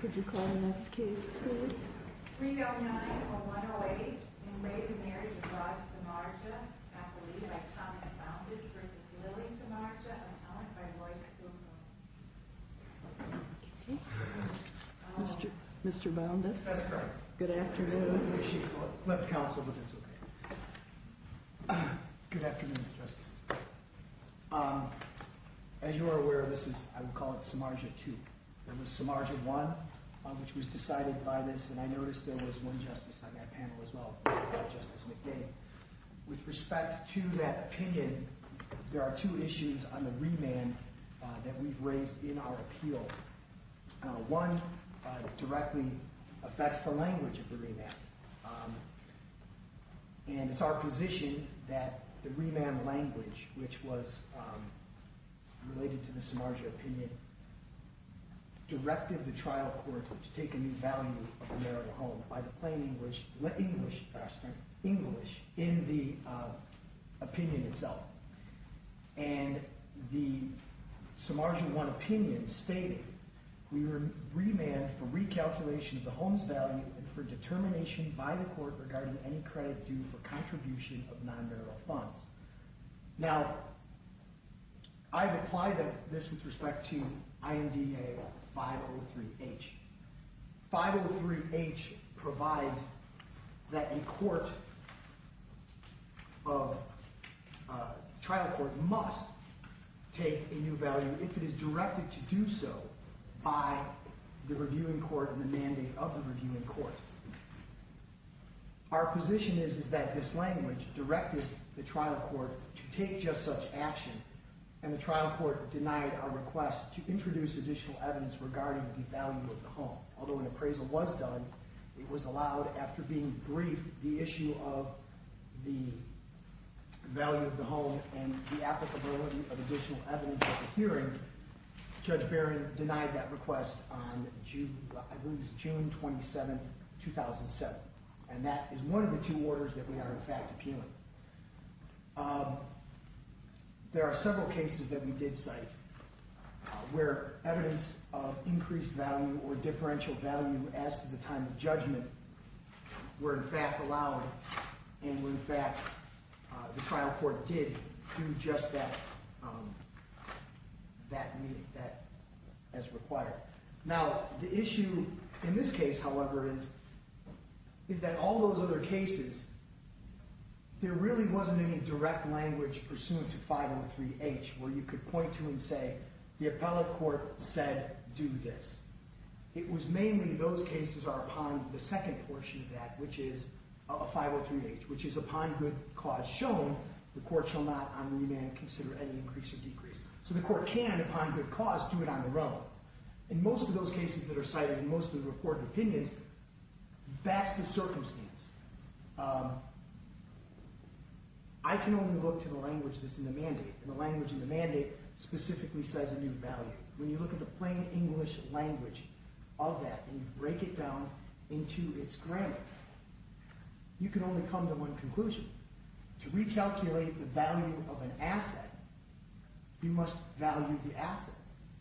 Could you call the next case please. 309-108 Enraged Marriage of Rod Samardzija Appellee by Thomas Boundas versus Lily Samardzija Appellant by Royce Boomerang Mr. Boundas? That's correct. Good afternoon. Let the counsel, if that's okay. Good afternoon, Justice. As you are aware, this is, I would call it, Samardzija II. It was Samardzija I which was decided by this. And I noticed there was one justice on that panel as well, Justice McDade. With respect to that opinion, there are two issues on the remand that we've raised in our appeal. And it's our position that the remand language which was related to the Samardzija opinion directed the trial court to take a new value of the marital home by the plain English in the opinion itself. And the Samardzija I opinion stated, we were remanded for recalculation of the home's value and for determination by the court regarding any credit due for contribution of non-marital funds. Now, I've applied this with respect to IMDA 503-H. 503-H provides that the trial court must take a new value if it is directed to do so by the reviewing court and the mandate of the reviewing court. Our position is that this language directed the trial court to take just such action and the trial court denied our request to introduce additional evidence regarding the value of the home. Although an appraisal was done, it was allowed after being briefed the issue of the value of the home and the applicability of additional evidence at the hearing, Judge Barron denied that request on June 27, 2007. And that is one of the two orders that we are in fact appealing. There are several cases that we did cite where evidence of increased value or differential value as to the time of judgment were in fact allowed and where in fact the trial court did do just that as required. Now, the issue in this case, however, is that all those other cases, there really wasn't any direct language pursuant to 503-H where you could point to and say the appellate court said do this. It was mainly those cases are upon the second portion of that, which is a 503-H, which is upon good cause shown, the court shall not on remand consider any increase or decrease. So the court can, upon good cause, do it on their own. In most of those cases that are cited in most of the reported opinions, that's the circumstance. I can only look to the language that's in the mandate, and the language in the mandate specifically says a new value. When you look at the plain English language of that and you break it down into its grammar, you can only come to one conclusion. To recalculate the value of an asset, you must value the asset.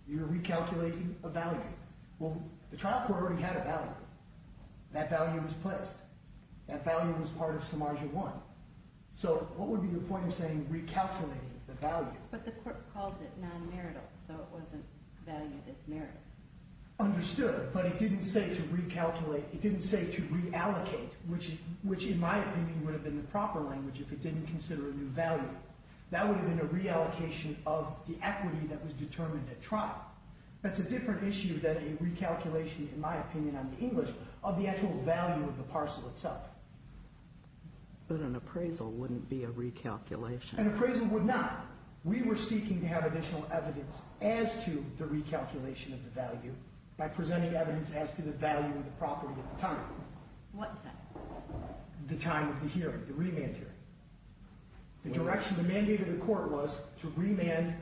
You're recalculating a value. Well, the trial court already had a value. That value was placed. That value was part of Samarja I. So what would be the point of saying recalculating the value? But the court called it non-marital, so it wasn't valued as marital. Understood, but it didn't say to recalculate. It didn't say to reallocate, which in my opinion would have been the proper language if it didn't consider a new value. That would have been a reallocation of the equity that was determined at trial. That's a different issue than a recalculation, in my opinion, on the English, of the actual value of the parcel itself. But an appraisal wouldn't be a recalculation. An appraisal would not. We were seeking to have additional evidence as to the recalculation of the value by presenting evidence as to the value of the property at the time. What time? The time of the hearing, the remand hearing. The direction, the mandate of the court was to remand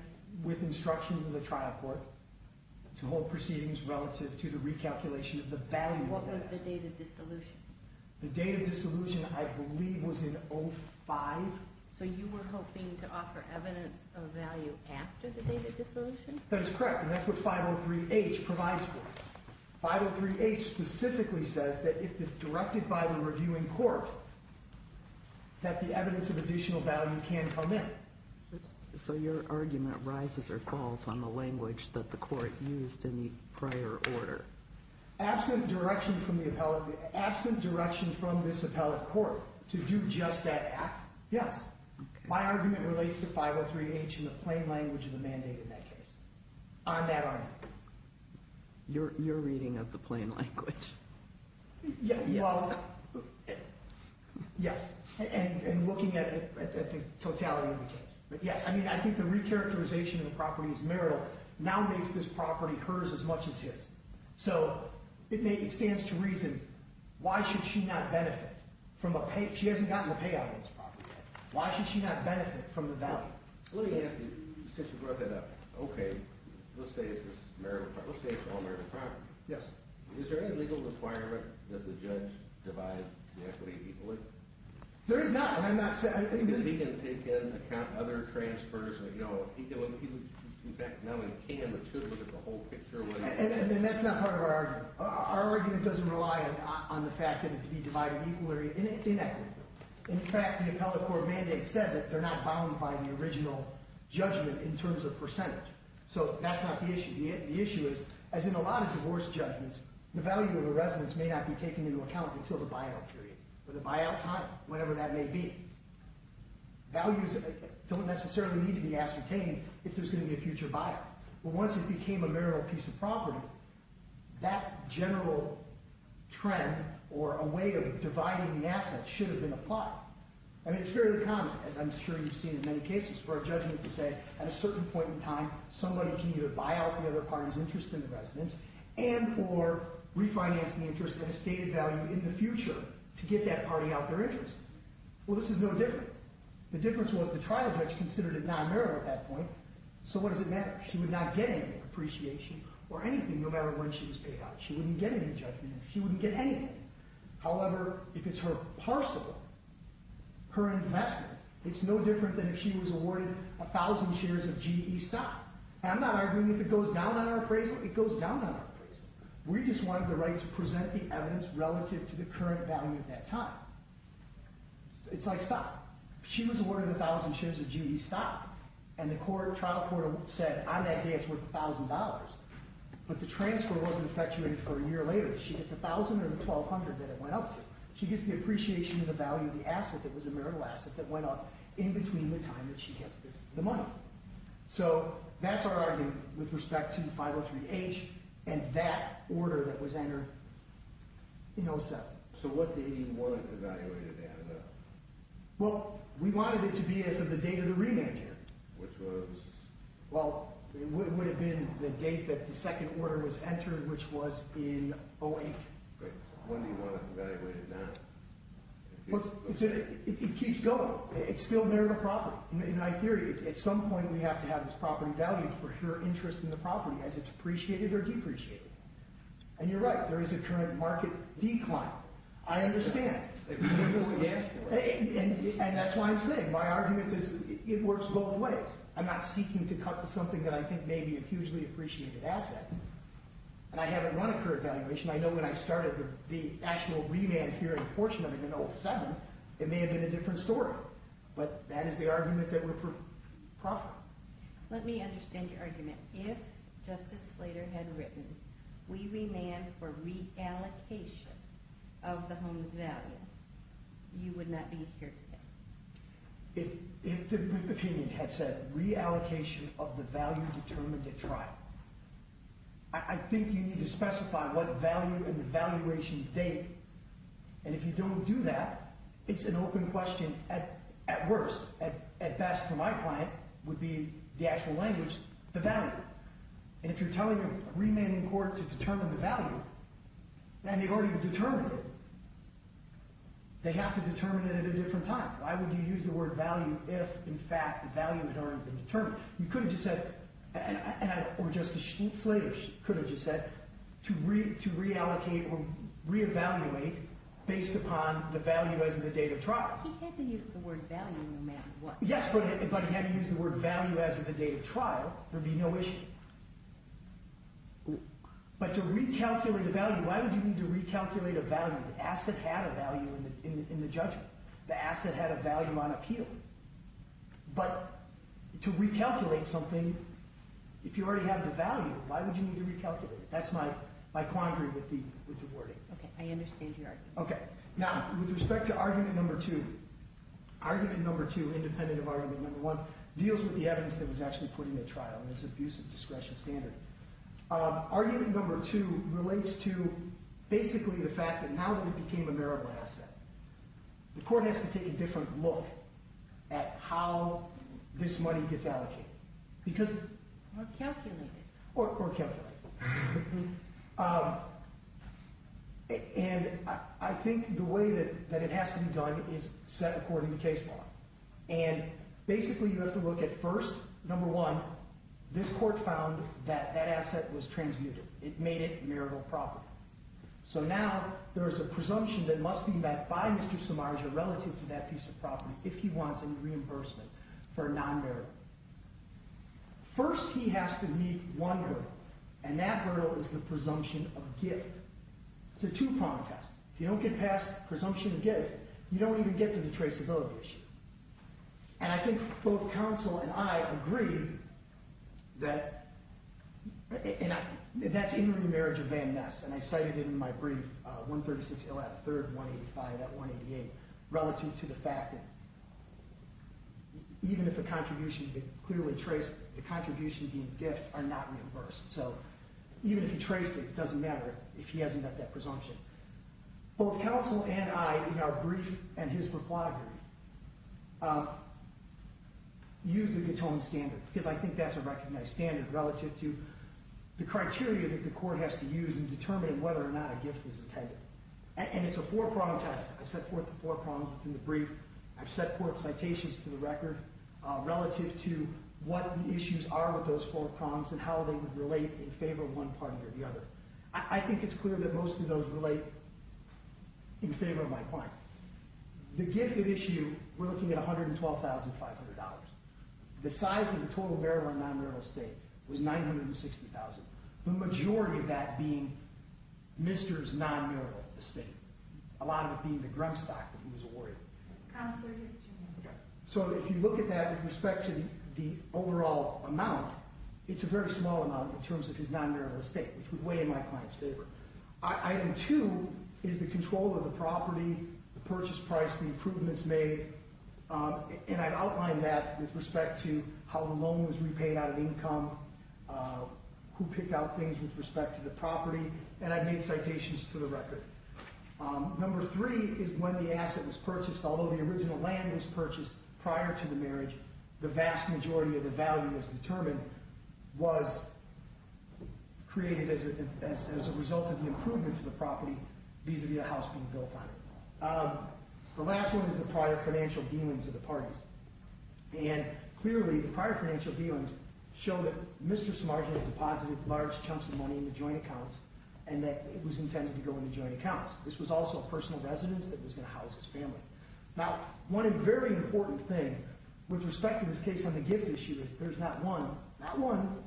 with instructions of the trial court to hold proceedings relative to the recalculation of the value of the asset. What was the date of dissolution? The date of dissolution, I believe, was in 05. So you were hoping to offer evidence of value after the date of dissolution? That is correct, and that's what 503H provides for us. 503H specifically says that if it's directed by the reviewing court, that the evidence of additional value can come in. So your argument rises or falls on the language that the court used in the prior order? Absent direction from the appellate, absent direction from this appellate court to do just that act, yes. My argument relates to 503H in the plain language of the mandate in that case. On that argument. You're reading of the plain language. Yes, and looking at the totality of the case. But yes, I think the recharacterization of the property is marital. Now makes this property hers as much as his. So it stands to reason, why should she not benefit from a payout? She hasn't gotten a payout on this property yet. Why should she not benefit from the value? Let me ask you, since you brought that up. Okay, let's say it's all marital property. Yes. Is there any legal requirement that the judge divide the equity equally? There is not, and I'm not saying. Because he can take in, account other transfers. In fact, not only can, but should look at the whole picture. And that's not part of our argument. Our argument doesn't rely on the fact that it can be divided equally or inequally. In fact, the appellate court mandate said that they're not bound by the original judgment in terms of percentage. So that's not the issue. The issue is, as in a lot of divorce judgments, the value of a residence may not be taken into account until the buyout period. Or the buyout time, whenever that may be. Values don't necessarily need to be ascertained if there's going to be a future buyout. But once it became a marital piece of property, that general trend, or a way of dividing the asset, should have been applied. And it's fairly common, as I'm sure you've seen in many cases, for a judgment to say, at a certain point in time, somebody can either buy out the other party's interest in the residence, and or refinance the interest at a stated value in the future to get that party out their interest. Well, this is no different. The difference was, the trial judge considered it non-marital at that point. So what does it matter? She would not get any appreciation, or anything, no matter when she was paid out. She wouldn't get any judgment. She wouldn't get anything. However, if it's her parcel, her investment, it's no different than if she was awarded a thousand shares of G.E. stock. And I'm not arguing if it goes down on our appraisal. It goes down on our appraisal. We just wanted the right to present the evidence relative to the current value at that time. It's like stock. She was awarded a thousand shares of G.E. stock, and the trial court said, on that day, it's worth a thousand dollars. But the transfer wasn't effectuated for a year later. She gets a thousand or the $1,200 that it went up to. She gets the appreciation of the value of the asset that was a marital asset that went up in between the time that she gets the money. So that's our argument with respect to 503H and that order that was entered in 07. So what date do you want it evaluated at? Well, we wanted it to be as of the date of the remand here. Which was? Well, it would have been the date that the second order was entered, which was in 08. Great. When do you want it evaluated now? It keeps going. It's still marital property. Now, in my theory, at some point, we have to have this property valued for her interest in the property as it's appreciated or depreciated. And you're right. There is a current market decline. I understand. And that's why I'm saying my argument is it works both ways. I'm not seeking to cut to something that I think may be a hugely appreciated asset. And I haven't run a current valuation. I know when I started the actual remand here in portion of it in 07, it may have been a different story. But that is the argument that we're for profit. Let me understand your argument. If Justice Slater had written, we remand for reallocation of the home's value, you would not be here today. If the opinion had said reallocation of the value determined at trial, I think you need to specify what value and the valuation date. And if you don't do that, it's an open question at worst. At best, for my client, would be the actual language, the value. And if you're telling a remand in court to determine the value and they've already determined it, they have to determine it at a different time. Why would you use the word value if, in fact, the value had already been determined? Or Justice Slater could have just said to reallocate or reevaluate based upon the value as of the date of trial. He had to use the word value no matter what. Yes, but he had to use the word value as of the date of trial. There would be no issue. But to recalculate a value, why would you need to recalculate a value? The asset had a value in the judgment. The asset had a value on appeal. But to recalculate something, if you already have the value, why would you need to recalculate it? That's my quandary with the wording. Okay, I understand your argument. Okay, now, with respect to argument number two, argument number two, independent of argument number one, deals with the evidence that was actually put in the trial and its abuse of discretion standard. Argument number two relates to basically the fact that now that it became a merible asset, the court has to take a different look. At how this money gets allocated. Or calculated. Or calculated. And I think the way that it has to be done is set according to case law. And basically you have to look at first, number one, this court found that that asset was transmuted. It made it merible property. So now there's a presumption that must be met by Mr. Samarja relative to that piece of property if he wants any reimbursement for a non-meritable. First he has to meet one hurdle. And that hurdle is the presumption of gift. It's a two-prong test. If you don't get past presumption of gift, you don't even get to the traceability issue. And I think both counsel and I agree that that's in the remarriage of Van Ness. And I cited it in my brief, 136 ill at third, 185 at 188. Relative to the fact that even if a contribution is clearly traced, the contributions deemed gift are not reimbursed. So even if he traced it, it doesn't matter if he hasn't met that presumption. Both counsel and I, in our brief and his proclivity, use the Gatone standard. Because I think that's a recognized standard relative to the criteria that the court has to use in determining whether or not a gift was intended. And it's a four-prong test. I've set forth the four prongs in the brief. I've set forth citations to the record relative to what the issues are with those four prongs and how they would relate in favor of one party or the other. I think it's clear that most of those relate in favor of my client. The gift at issue, we're looking at $112,500. The size of the total bearable and non-bearable estate was $960,000. The majority of that being Mr.'s non-bearable estate. A lot of it being the grump stock that he was awarded. So if you look at that with respect to the overall amount, it's a very small amount in terms of his non-bearable estate. Which would weigh in my client's favor. Item two is the control of the property, the purchase price, the improvements made. And I've outlined that with respect to how the loan was repaid out of income, who picked out things with respect to the property. And I've made citations to the record. Number three is when the asset was purchased. Although the original land was purchased prior to the marriage, the vast majority of the value that was determined was created as a result of the improvement to the property, vis-a-vis a house being built on it. The last one is the prior financial dealings of the parties. And clearly, the prior financial dealings show that Mr. Smargent deposited large chunks of money into joint accounts and that it was intended to go into joint accounts. This was also a personal residence that was going to house his family. Now, one very important thing with respect to this case on the gift issue is there's not one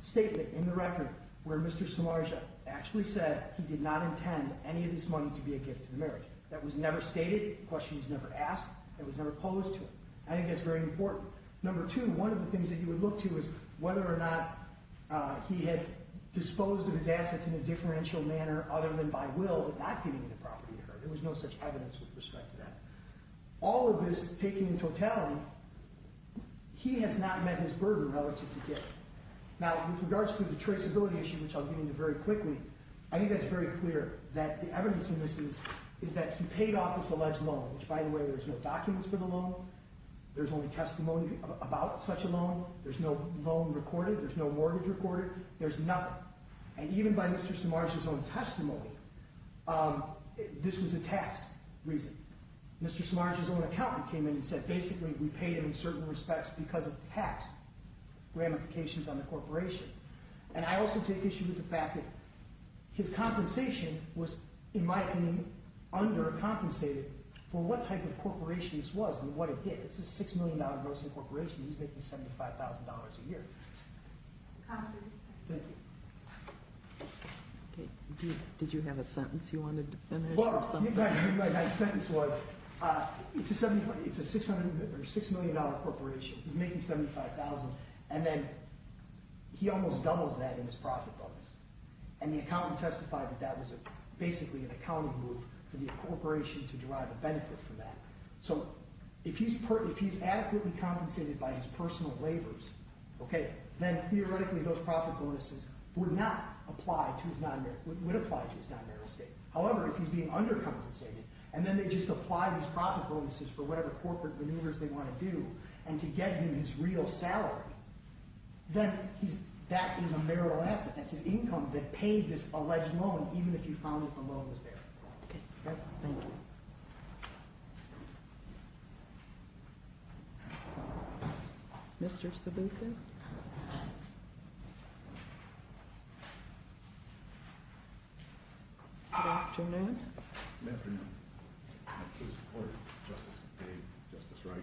statement in the record where Mr. Smargent actually said he did not intend any of this money to be a gift to the marriage. That was never stated, the question was never asked, and was never posed to him. I think that's very important. Number two, one of the things that you would look to is whether or not he had disposed of his assets in a differential manner other than by will, but not giving the property to her. There was no such evidence with respect to that. All of this taken into account, he has not met his burden relative to gift. Now, with regards to the traceability issue, which I'll get into very quickly, I think that's very clear that the evidence in this is that he paid off his alleged loan, which by the way, there's no documents for the loan. There's only testimony about such a loan. There's no loan recorded. There's no mortgage recorded. There's nothing. And even by Mr. Smargent's own testimony, this was a tax reason. Mr. Smargent's own accountant came in and said basically we paid him in certain respects because of tax ramifications on the corporation. And I also take issue with the fact that his compensation was, in my opinion, under-compensated for what type of corporation this was and what it did. It's a $6 million grossing corporation. He's making $75,000 a year. Thank you. Did you have a sentence you wanted to finish? My sentence was it's a $6 million corporation. He's making $75,000. And then he almost doubles that in his profit bonus. And the accountant testified that that was basically an accounting move for the corporation to derive a benefit from that. So if he's adequately compensated by his personal labors, then theoretically those profit bonuses would apply to his non-barrel estate. However, if he's being under-compensated and then they just apply these profit bonuses for whatever corporate maneuvers they want to do and to get him his real salary, then that is a barrel asset. That's his income that paid this alleged loan even if he found that the loan was there. Okay. Thank you. Mr. Sabuco? Good afternoon. Good afternoon. I'm here to support Justice Bates, Justice Reich.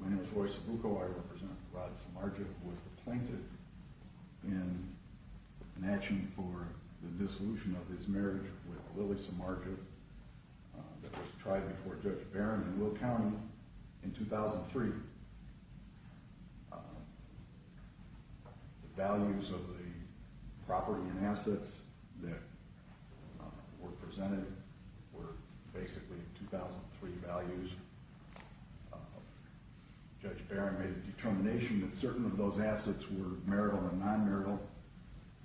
My name is Roy Sabuco. I represent Rod Samardzic, who was depleted in matching for the dissolution of his marriage with Lily Samardzic that was tried before Judge Barron in Will County in 2003. The values of the property and assets that were presented were basically 2003 values. Judge Barron made a determination that certain of those assets were marital and non-marital.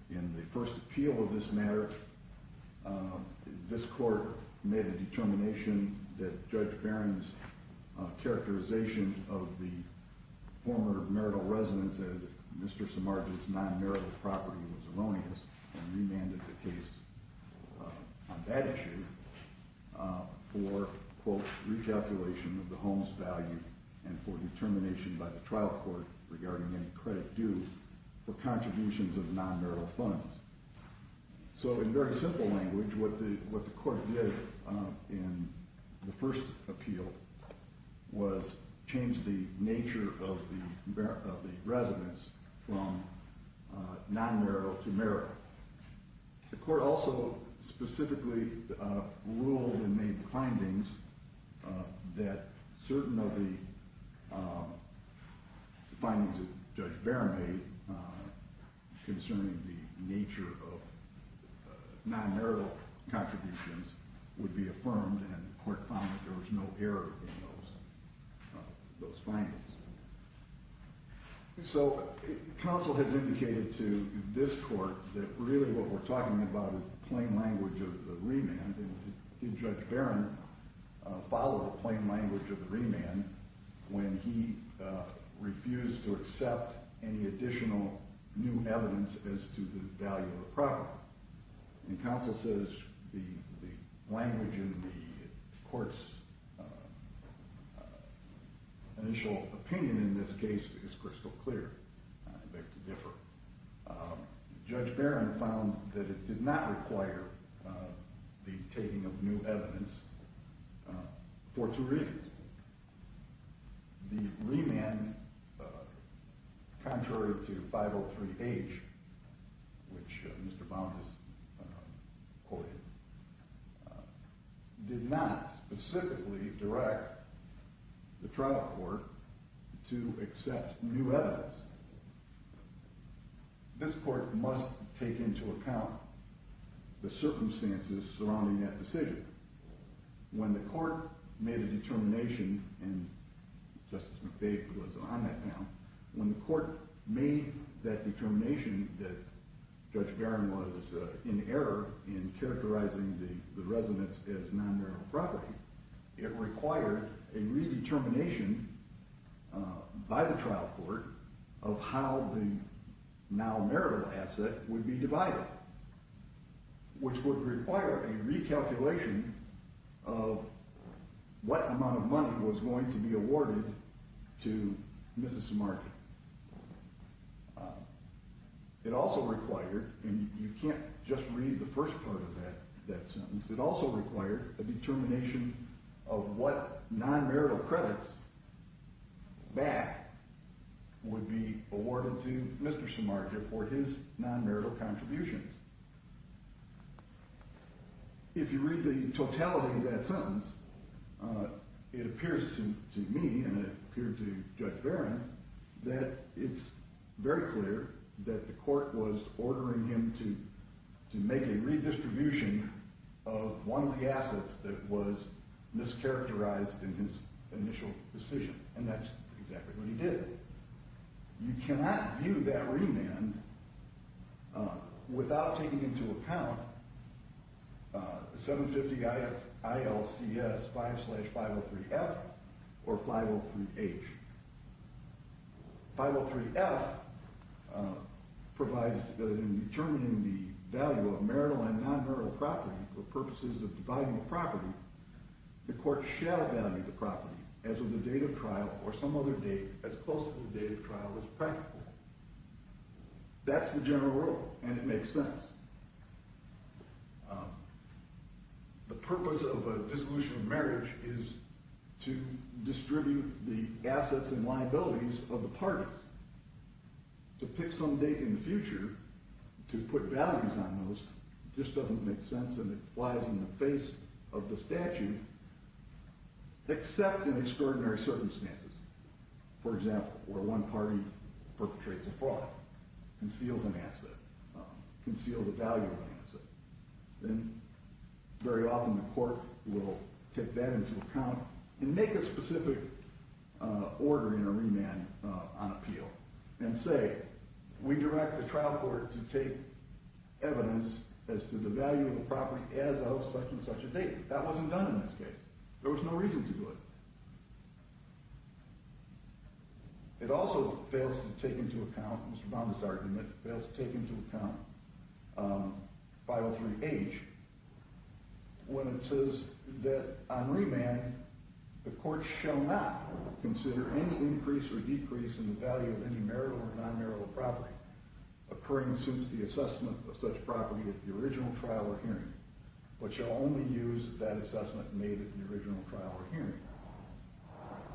In the first appeal of this matter, this court made a determination that Judge Barron's characterization of the former marital residence as Mr. Samardzic's non-marital property was erroneous and remanded the case on that issue for, quote, recalculation of the home's value and for determination by the trial court regarding any credit due for contributions of non-marital funds. So in very simple language, what the court did in the first appeal was change the nature of the residence from non-marital to marital. The court also specifically ruled and made findings that certain of the findings that Judge Barron made concerning the nature of non-marital contributions would be affirmed, and the court found that there was no error in those findings. So counsel has indicated to this court that really what we're talking about is the plain language of the remand, and did Judge Barron follow the plain language of the remand when he refused to accept any additional new evidence as to the value of the property? And counsel says the language in the court's initial opinion in this case is crystal clear. I beg to differ. Judge Barron found that it did not require the taking of new evidence for two reasons. The remand, contrary to 503H, which Mr. Baum has quoted, did not specifically direct the trial court to accept new evidence. This court must take into account the circumstances surrounding that decision. When the court made a determination, and Justice McVeigh was on that panel, when the court made that determination that Judge Barron was in error in characterizing the residence as non-marital property, it required a redetermination by the trial court of how the now marital asset would be divided, which would require a recalculation of what amount of money was going to be awarded to Mrs. Samarja. It also required, and you can't just read the first part of that sentence, it also required a determination of what non-marital credits back would be awarded to Mr. Samarja for his non-marital contributions. If you read the totality of that sentence, it appears to me, and it appeared to Judge Barron, that it's very clear that the court was ordering him to make a redistribution of one of the assets that was mischaracterized in his initial decision, and that's exactly what he did. You cannot view that remand without taking into account the 750 ILCS 5-503F or 503H. 503F provides that in determining the value of marital and non-marital property for purposes of dividing the property, the court shall value the property as of the date of trial or some other date as close to the date of trial as practical. That's the general rule, and it makes sense. The purpose of a dissolution of marriage is to distribute the assets and liabilities of the parties. To pick some date in the future to put values on those just doesn't make sense, and it flies in the face of the statute, except in extraordinary circumstances, for example, where one party perpetrates a fraud, conceals an asset, conceals a valuable asset. Then very often the court will take that into account and make a specific order in a remand on appeal and say, we direct the trial court to take evidence as to the value of the property as of such and such a date. That wasn't done in this case. There was no reason to do it. It also fails to take into account Mr. Baum's argument, fails to take into account 503H when it says that on remand, the court shall not consider any increase or decrease in the value of any marital or non-marital property occurring since the assessment of such property at the original trial or hearing, but shall only use that assessment made at the original trial or hearing.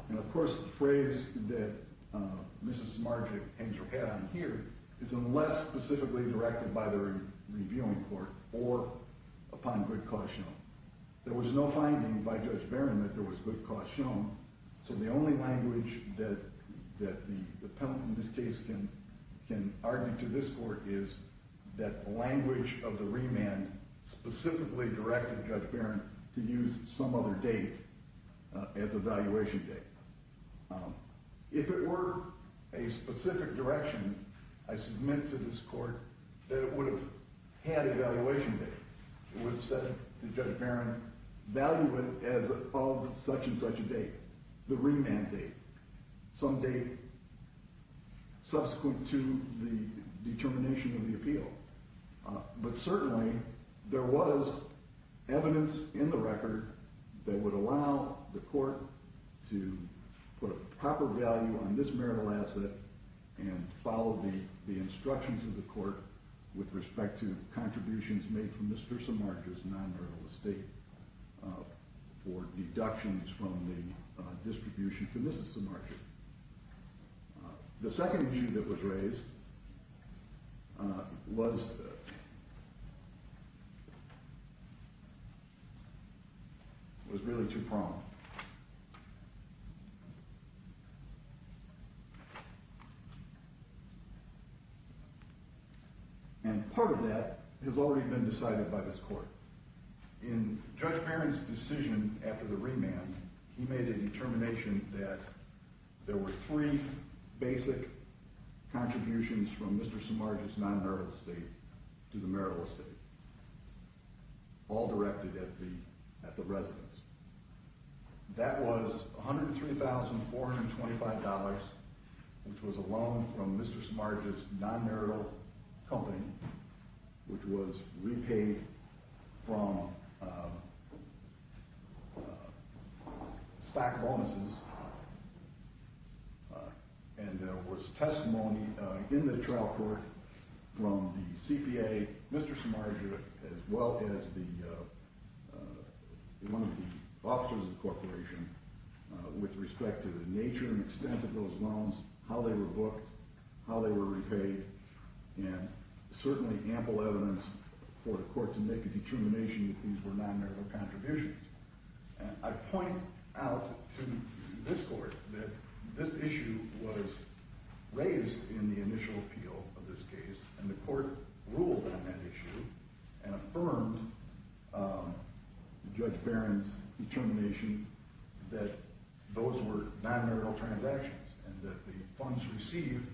And of course, the phrase that Mrs. Margic hangs her hat on here is unless specifically directed by the reviewing court or upon good cause shown. There was no finding by Judge Barron that there was good cause shown, so the only language that the penalty in this case can argue to this court is that the language of the remand specifically directed Judge Barron to use some other date as a valuation date. If it were a specific direction, I submit to this court that it would have had a valuation date. It would have said to Judge Barron, value it as of such and such a date, the remand date, some date subsequent to the determination of the appeal. But certainly, there was evidence in the record that would allow the court to put a proper value on this marital asset and follow the instructions of the court with respect to contributions made from Mr. Samargas' non-marital estate for deductions from the distribution to Mrs. Samargas. The second view that was raised was really too prompt. And part of that has already been decided by this court. In Judge Barron's decision after the remand, he made a determination that there were three basic contributions from Mr. Samargas' non-marital estate to the marital estate, all directed at the residence. That was $103,425, which was a loan from Mr. Samargas' non-marital company, which was repaid from stock bonuses. And there was testimony in the trial court from the CPA, Mr. Samargas, as well as one of the officers of the corporation with respect to the nature and extent of those loans, how they were booked, how they were repaid, and certainly ample evidence for the court to make a determination that these were non-marital contributions. And I point out to this court that this issue was raised in the initial appeal of this case, and the court ruled on that issue and affirmed Judge Barron's determination that those were non-marital transactions and that the funds received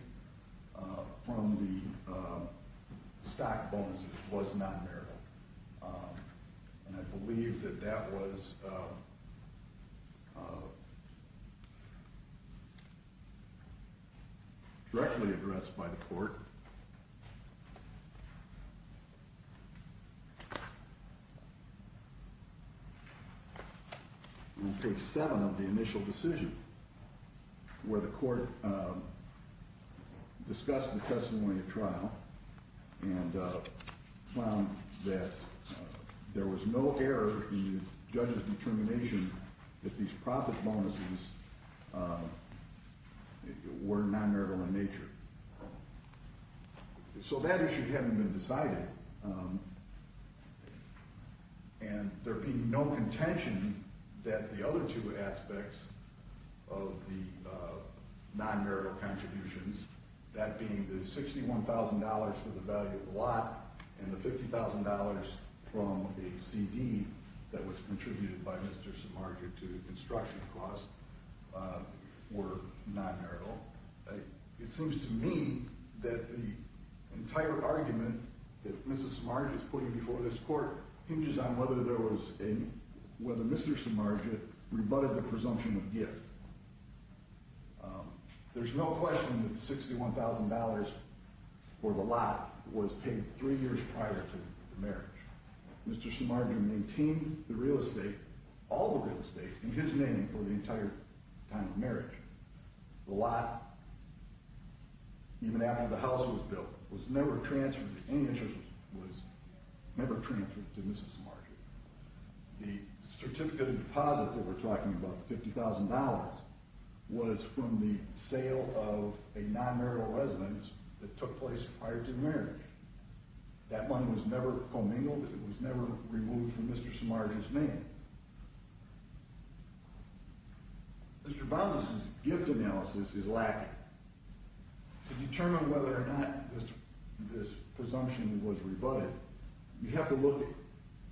from the stock bonuses was non-marital. And I believe that that was directly addressed by the court. In case 7 of the initial decision, where the court discussed the testimony in the trial and found that there was no error in the judge's determination that these profit bonuses were non-marital in nature. So that issue hadn't been decided, and there being no contention that the other two aspects of the non-marital contributions, that being the $61,000 for the value of the lot and the $50,000 from the CD that was contributed by Mr. Samargas to the construction cost, were non-marital. It seems to me that the entire argument that Mrs. Samargas is putting before this court hinges on whether Mr. Samargas rebutted the presumption of gift. There's no question that $61,000 for the lot was paid three years prior to the marriage. Mr. Samargas maintained the real estate, all the real estate, in his name for the entire time of marriage. The lot, even after the house was built, was never transferred to Mrs. Samargas. The certificate of deposit that we're talking about, $50,000, was from the sale of a non-marital residence that took place prior to the marriage. That money was never commingled, it was never removed from Mr. Samargas' name. Mr. Bondis' gift analysis is lacking. To determine whether or not this presumption was rebutted, you have to look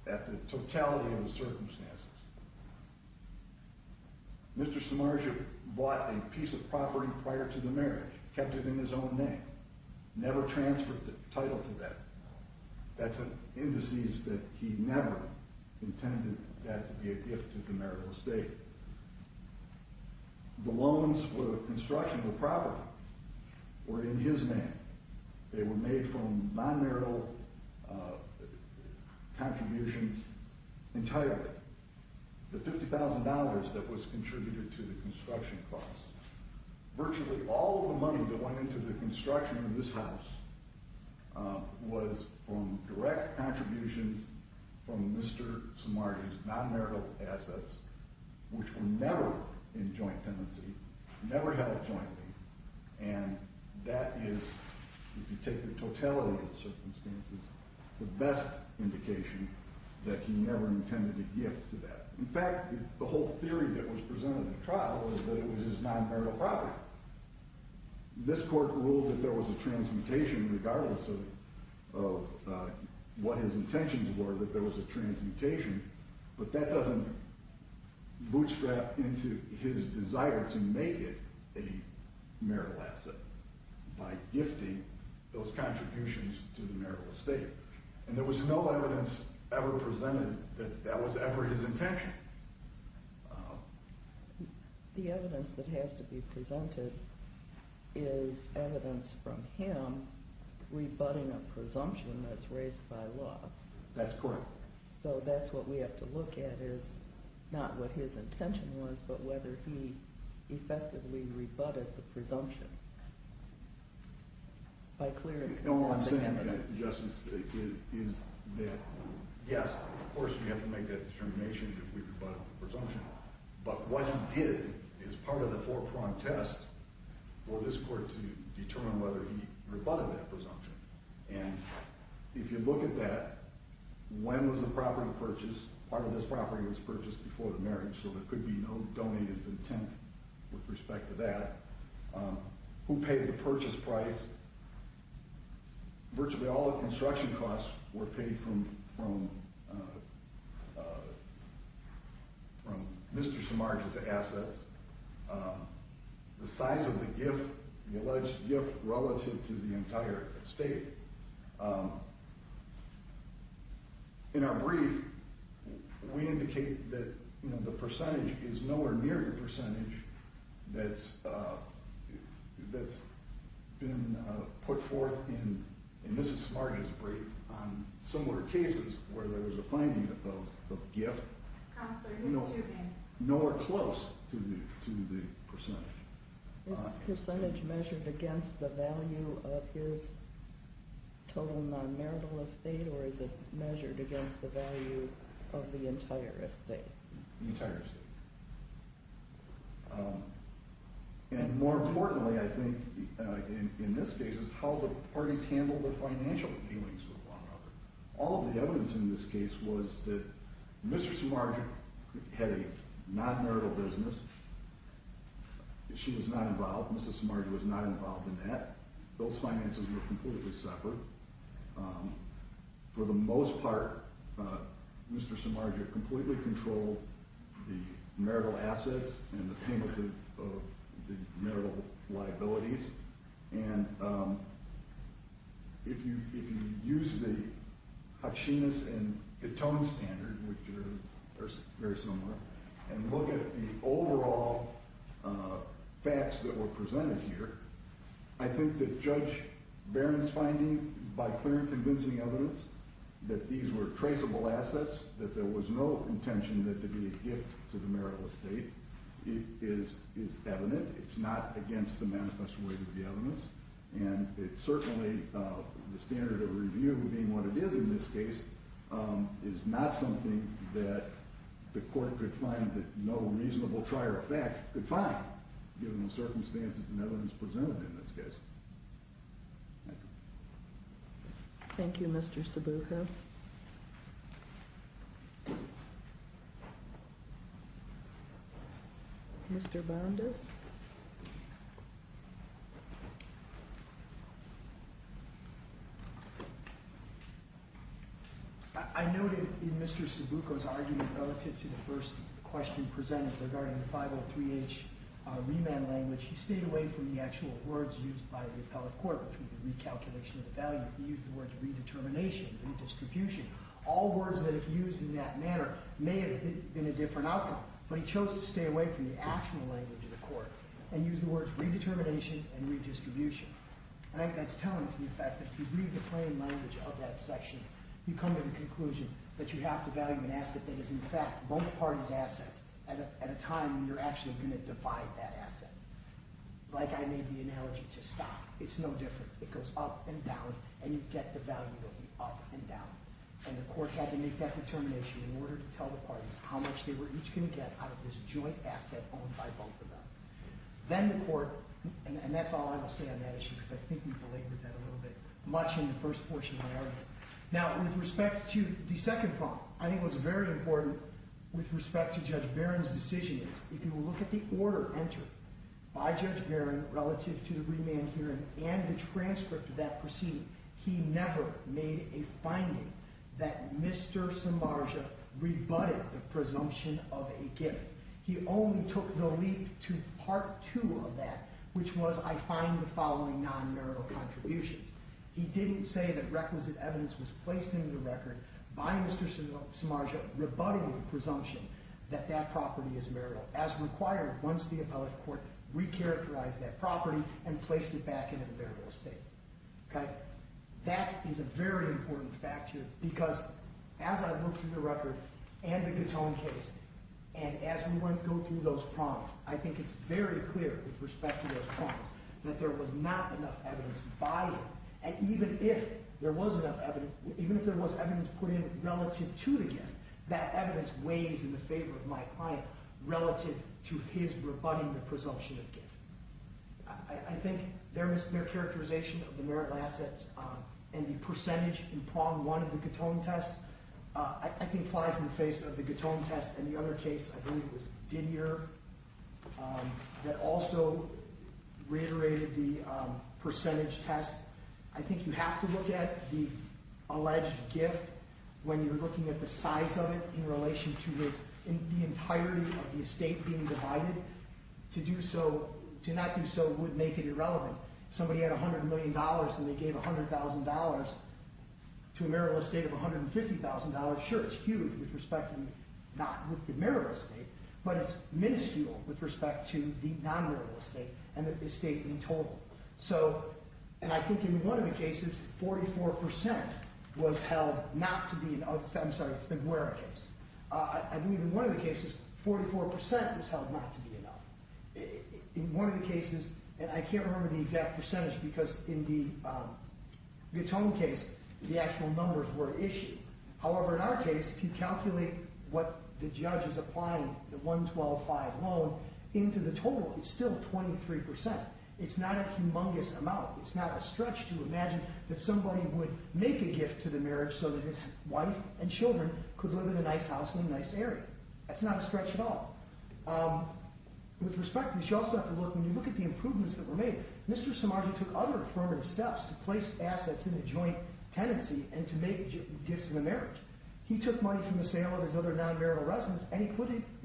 at the totality of the circumstances. Mr. Samargas bought a piece of property prior to the marriage, kept it in his own name, never transferred the title to that. That's an indices that he never intended that to be a gift to the marital estate. The loans for the construction of the property were in his name. They were made from non-marital contributions entirely. The $50,000 that was contributed to the construction costs, virtually all of the money that went into the construction of this house, was from direct contributions from Mr. Samargas' non-marital assets, which were never in joint tenancy, never held jointly. And that is, if you take the totality of the circumstances, the best indication that he never intended a gift to that. In fact, the whole theory that was presented in the trial was that it was his non-marital property. This court ruled that there was a transmutation regardless of what his intentions were, that there was a transmutation, but that doesn't bootstrap into his desire to make it a marital asset by gifting those contributions to the marital estate. And there was no evidence ever presented that that was ever his intention. The evidence that has to be presented is evidence from him rebutting a presumption that's raised by law. That's correct. So that's what we have to look at is, not what his intention was, but whether he effectively rebutted the presumption. No, what I'm saying, Justice, is that, yes, of course we have to make that determination that we rebutted the presumption, but what he did is part of the four-prong test for this court to determine whether he rebutted that presumption. And if you look at that, when was the property purchased? Part of this property was purchased before the marriage, so there could be no donated content with respect to that. Who paid the purchase price? Virtually all the construction costs were paid from Mr. Samarge's assets. The size of the gift, the alleged gift, relative to the entire estate. In our brief, we indicate that the percentage is nowhere near the percentage that's been put forth in Mr. Samarge's brief. On similar cases where there's a finding of the gift, nowhere close to the percentage. Is the percentage measured against the value of his total non-marital estate, or is it measured against the value of the entire estate? The entire estate. And more importantly, I think, in this case, is how the parties handled the financial dealings with one another. All the evidence in this case was that Mr. Samarge had a non-marital business. She was not involved, Mr. Samarge was not involved in that. Those finances were completely separate. For the most part, Mr. Samarge had completely controlled the marital assets and the payment of the marital liabilities. And if you use the Hotchinus and Catone standard, which are very similar, and look at the overall facts that were presented here, I think that Judge Barron's finding, by clear and convincing evidence, that these were traceable assets, that there was no intention that there be a gift to the marital estate, is evident. It's not against the manifesto weight of the evidence. And it certainly, the standard of review being what it is in this case, is not something that the court could find that no reasonable trier of fact could find, given the circumstances and evidence presented in this case. Thank you. Thank you, Mr. Sabuco. Thank you. Mr. Bondis. I noted in Mr. Sabuco's argument relative to the first question presented regarding the 503H remand language, he stayed away from the actual words used by the appellate court between the recalculation of the value. He used the words redetermination and distribution. All words that he used in that manner may have been a different outcome, but he chose to stay away from the actual language of the court and use the words redetermination and redistribution. And I think that's telling us the fact that if you read the plain language of that section, you come to the conclusion that you have to value an asset that is in fact both parties' assets at a time when you're actually going to divide that asset. Like I made the analogy to stock, it's no different. It goes up and down and you get the value of the up and down. And the court had to make that determination in order to tell the parties how much they were each going to get out of this joint asset owned by both of them. Then the court, and that's all I will say on that issue because I think we belabored that a little bit, much in the first portion of my argument. Now, with respect to the second problem, I think what's very important with respect to Judge Barron's decision is if you will look at the order entered by Judge Barron relative to the remand hearing and the transcript of that proceeding, he never made a finding that Mr. Samarja rebutted the presumption of a gift. He only took the leap to part two of that, which was I find the following non-marital contributions. He didn't say that requisite evidence was placed into the record by Mr. Samarja rebutting the presumption that that property is marital, as required once the appellate court recharacterized that property and placed it back into the variable estate. That is a very important factor because as I look through the record and the Katone case, and as we go through those problems, I think it's very clear with respect to those problems that there was not enough evidence by him. And even if there was enough evidence, even if there was evidence put in relative to the gift, that evidence weighs in the favor of my client relative to his rebutting the presumption of gift. I think their characterization of the marital assets and the percentage in prong one of the Katone test, I think flies in the face of the Katone test and the other case I believe was Didier that also reiterated the percentage test. I think you have to look at the alleged gift when you're looking at the size of it in relation to the entirety of the estate being divided. To not do so would make it irrelevant. Somebody had $100 million and they gave $100,000 to a marital estate of $150,000. Sure, it's huge with respect to not with the marital estate, but it's minuscule with respect to the non-marital estate and the estate in total. And I think in one of the cases, 44% was held not to be enough. I'm sorry, it's the Guerra case. I believe in one of the cases, 44% was held not to be enough. In one of the cases, and I can't remember the exact percentage because in the Katone case, the actual numbers were issued. However, in our case, if you calculate what the judge is applying, the $112,500 loan into the total, it's still 23%. It's not a humongous amount. It's not a stretch to imagine that somebody would make a gift to the marriage so that his wife and children could live in a nice house in a nice area. That's not a stretch at all. With respect to this, you also have to look, when you look at the improvements that were made, Mr. Samardzi took other affirmative steps to place assets in a joint tenancy and to make gifts in the marriage. He took money from the sale of his other non-marital residence and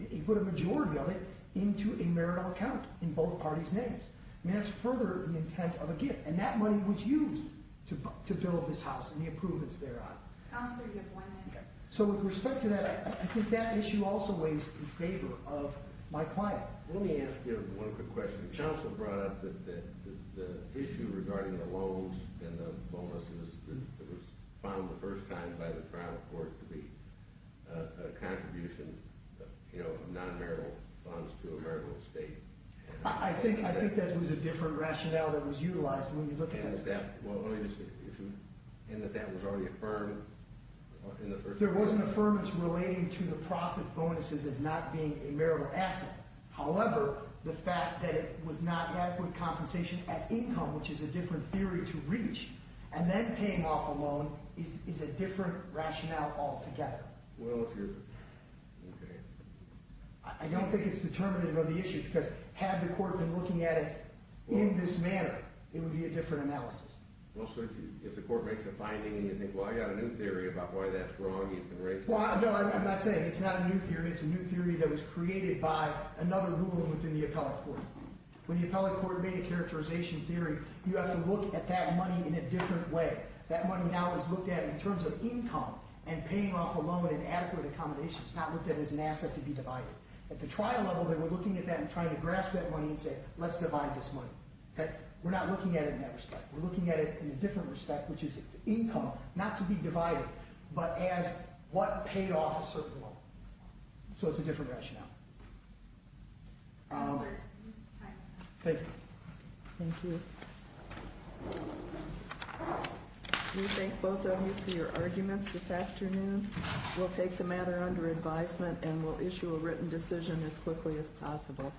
he put a majority of it into a marital account in both parties' names. That's further the intent of a gift, and that money was used to build this house and the improvements thereon. With respect to that, I think that issue also weighs in favor of my client. Let me ask you one quick question. The counsel brought up the issue regarding the loans and the bonuses that was found the first time by the trial court to be a contribution of non-marital funds to a marital estate. I think that was a different rationale that was utilized when you look at this. And that that was already affirmed? There was an affirmance relating to the profit bonuses as not being a marital asset. However, the fact that it was not an adequate compensation as income, which is a different theory to reach, and then paying off a loan is a different rationale altogether. I don't think it's determinative of the issue had the court been looking at it in this manner. It would be a different analysis. Well, certainly, if the court makes a finding and you think, well, I've got a new theory about why that's wrong, you can raise it. Well, no, I'm not saying it's not a new theory. It's a new theory that was created by another rule within the appellate court. When the appellate court made a characterization theory, you have to look at that money in a different way. That money now is looked at in terms of income and paying off a loan in adequate accommodation. It's not looked at as an asset to be divided. At the trial level, they were looking at that and trying to grasp that money and say, let's divide this money. We're not looking at it in that respect. We're looking at it in a different respect, which is income, not to be divided, but as what paid off a certain loan. So it's a different rationale. Thank you. Thank you. We thank both of you for your arguments this afternoon. We'll take the matter under advisement and we'll issue a written decision as quickly as possible.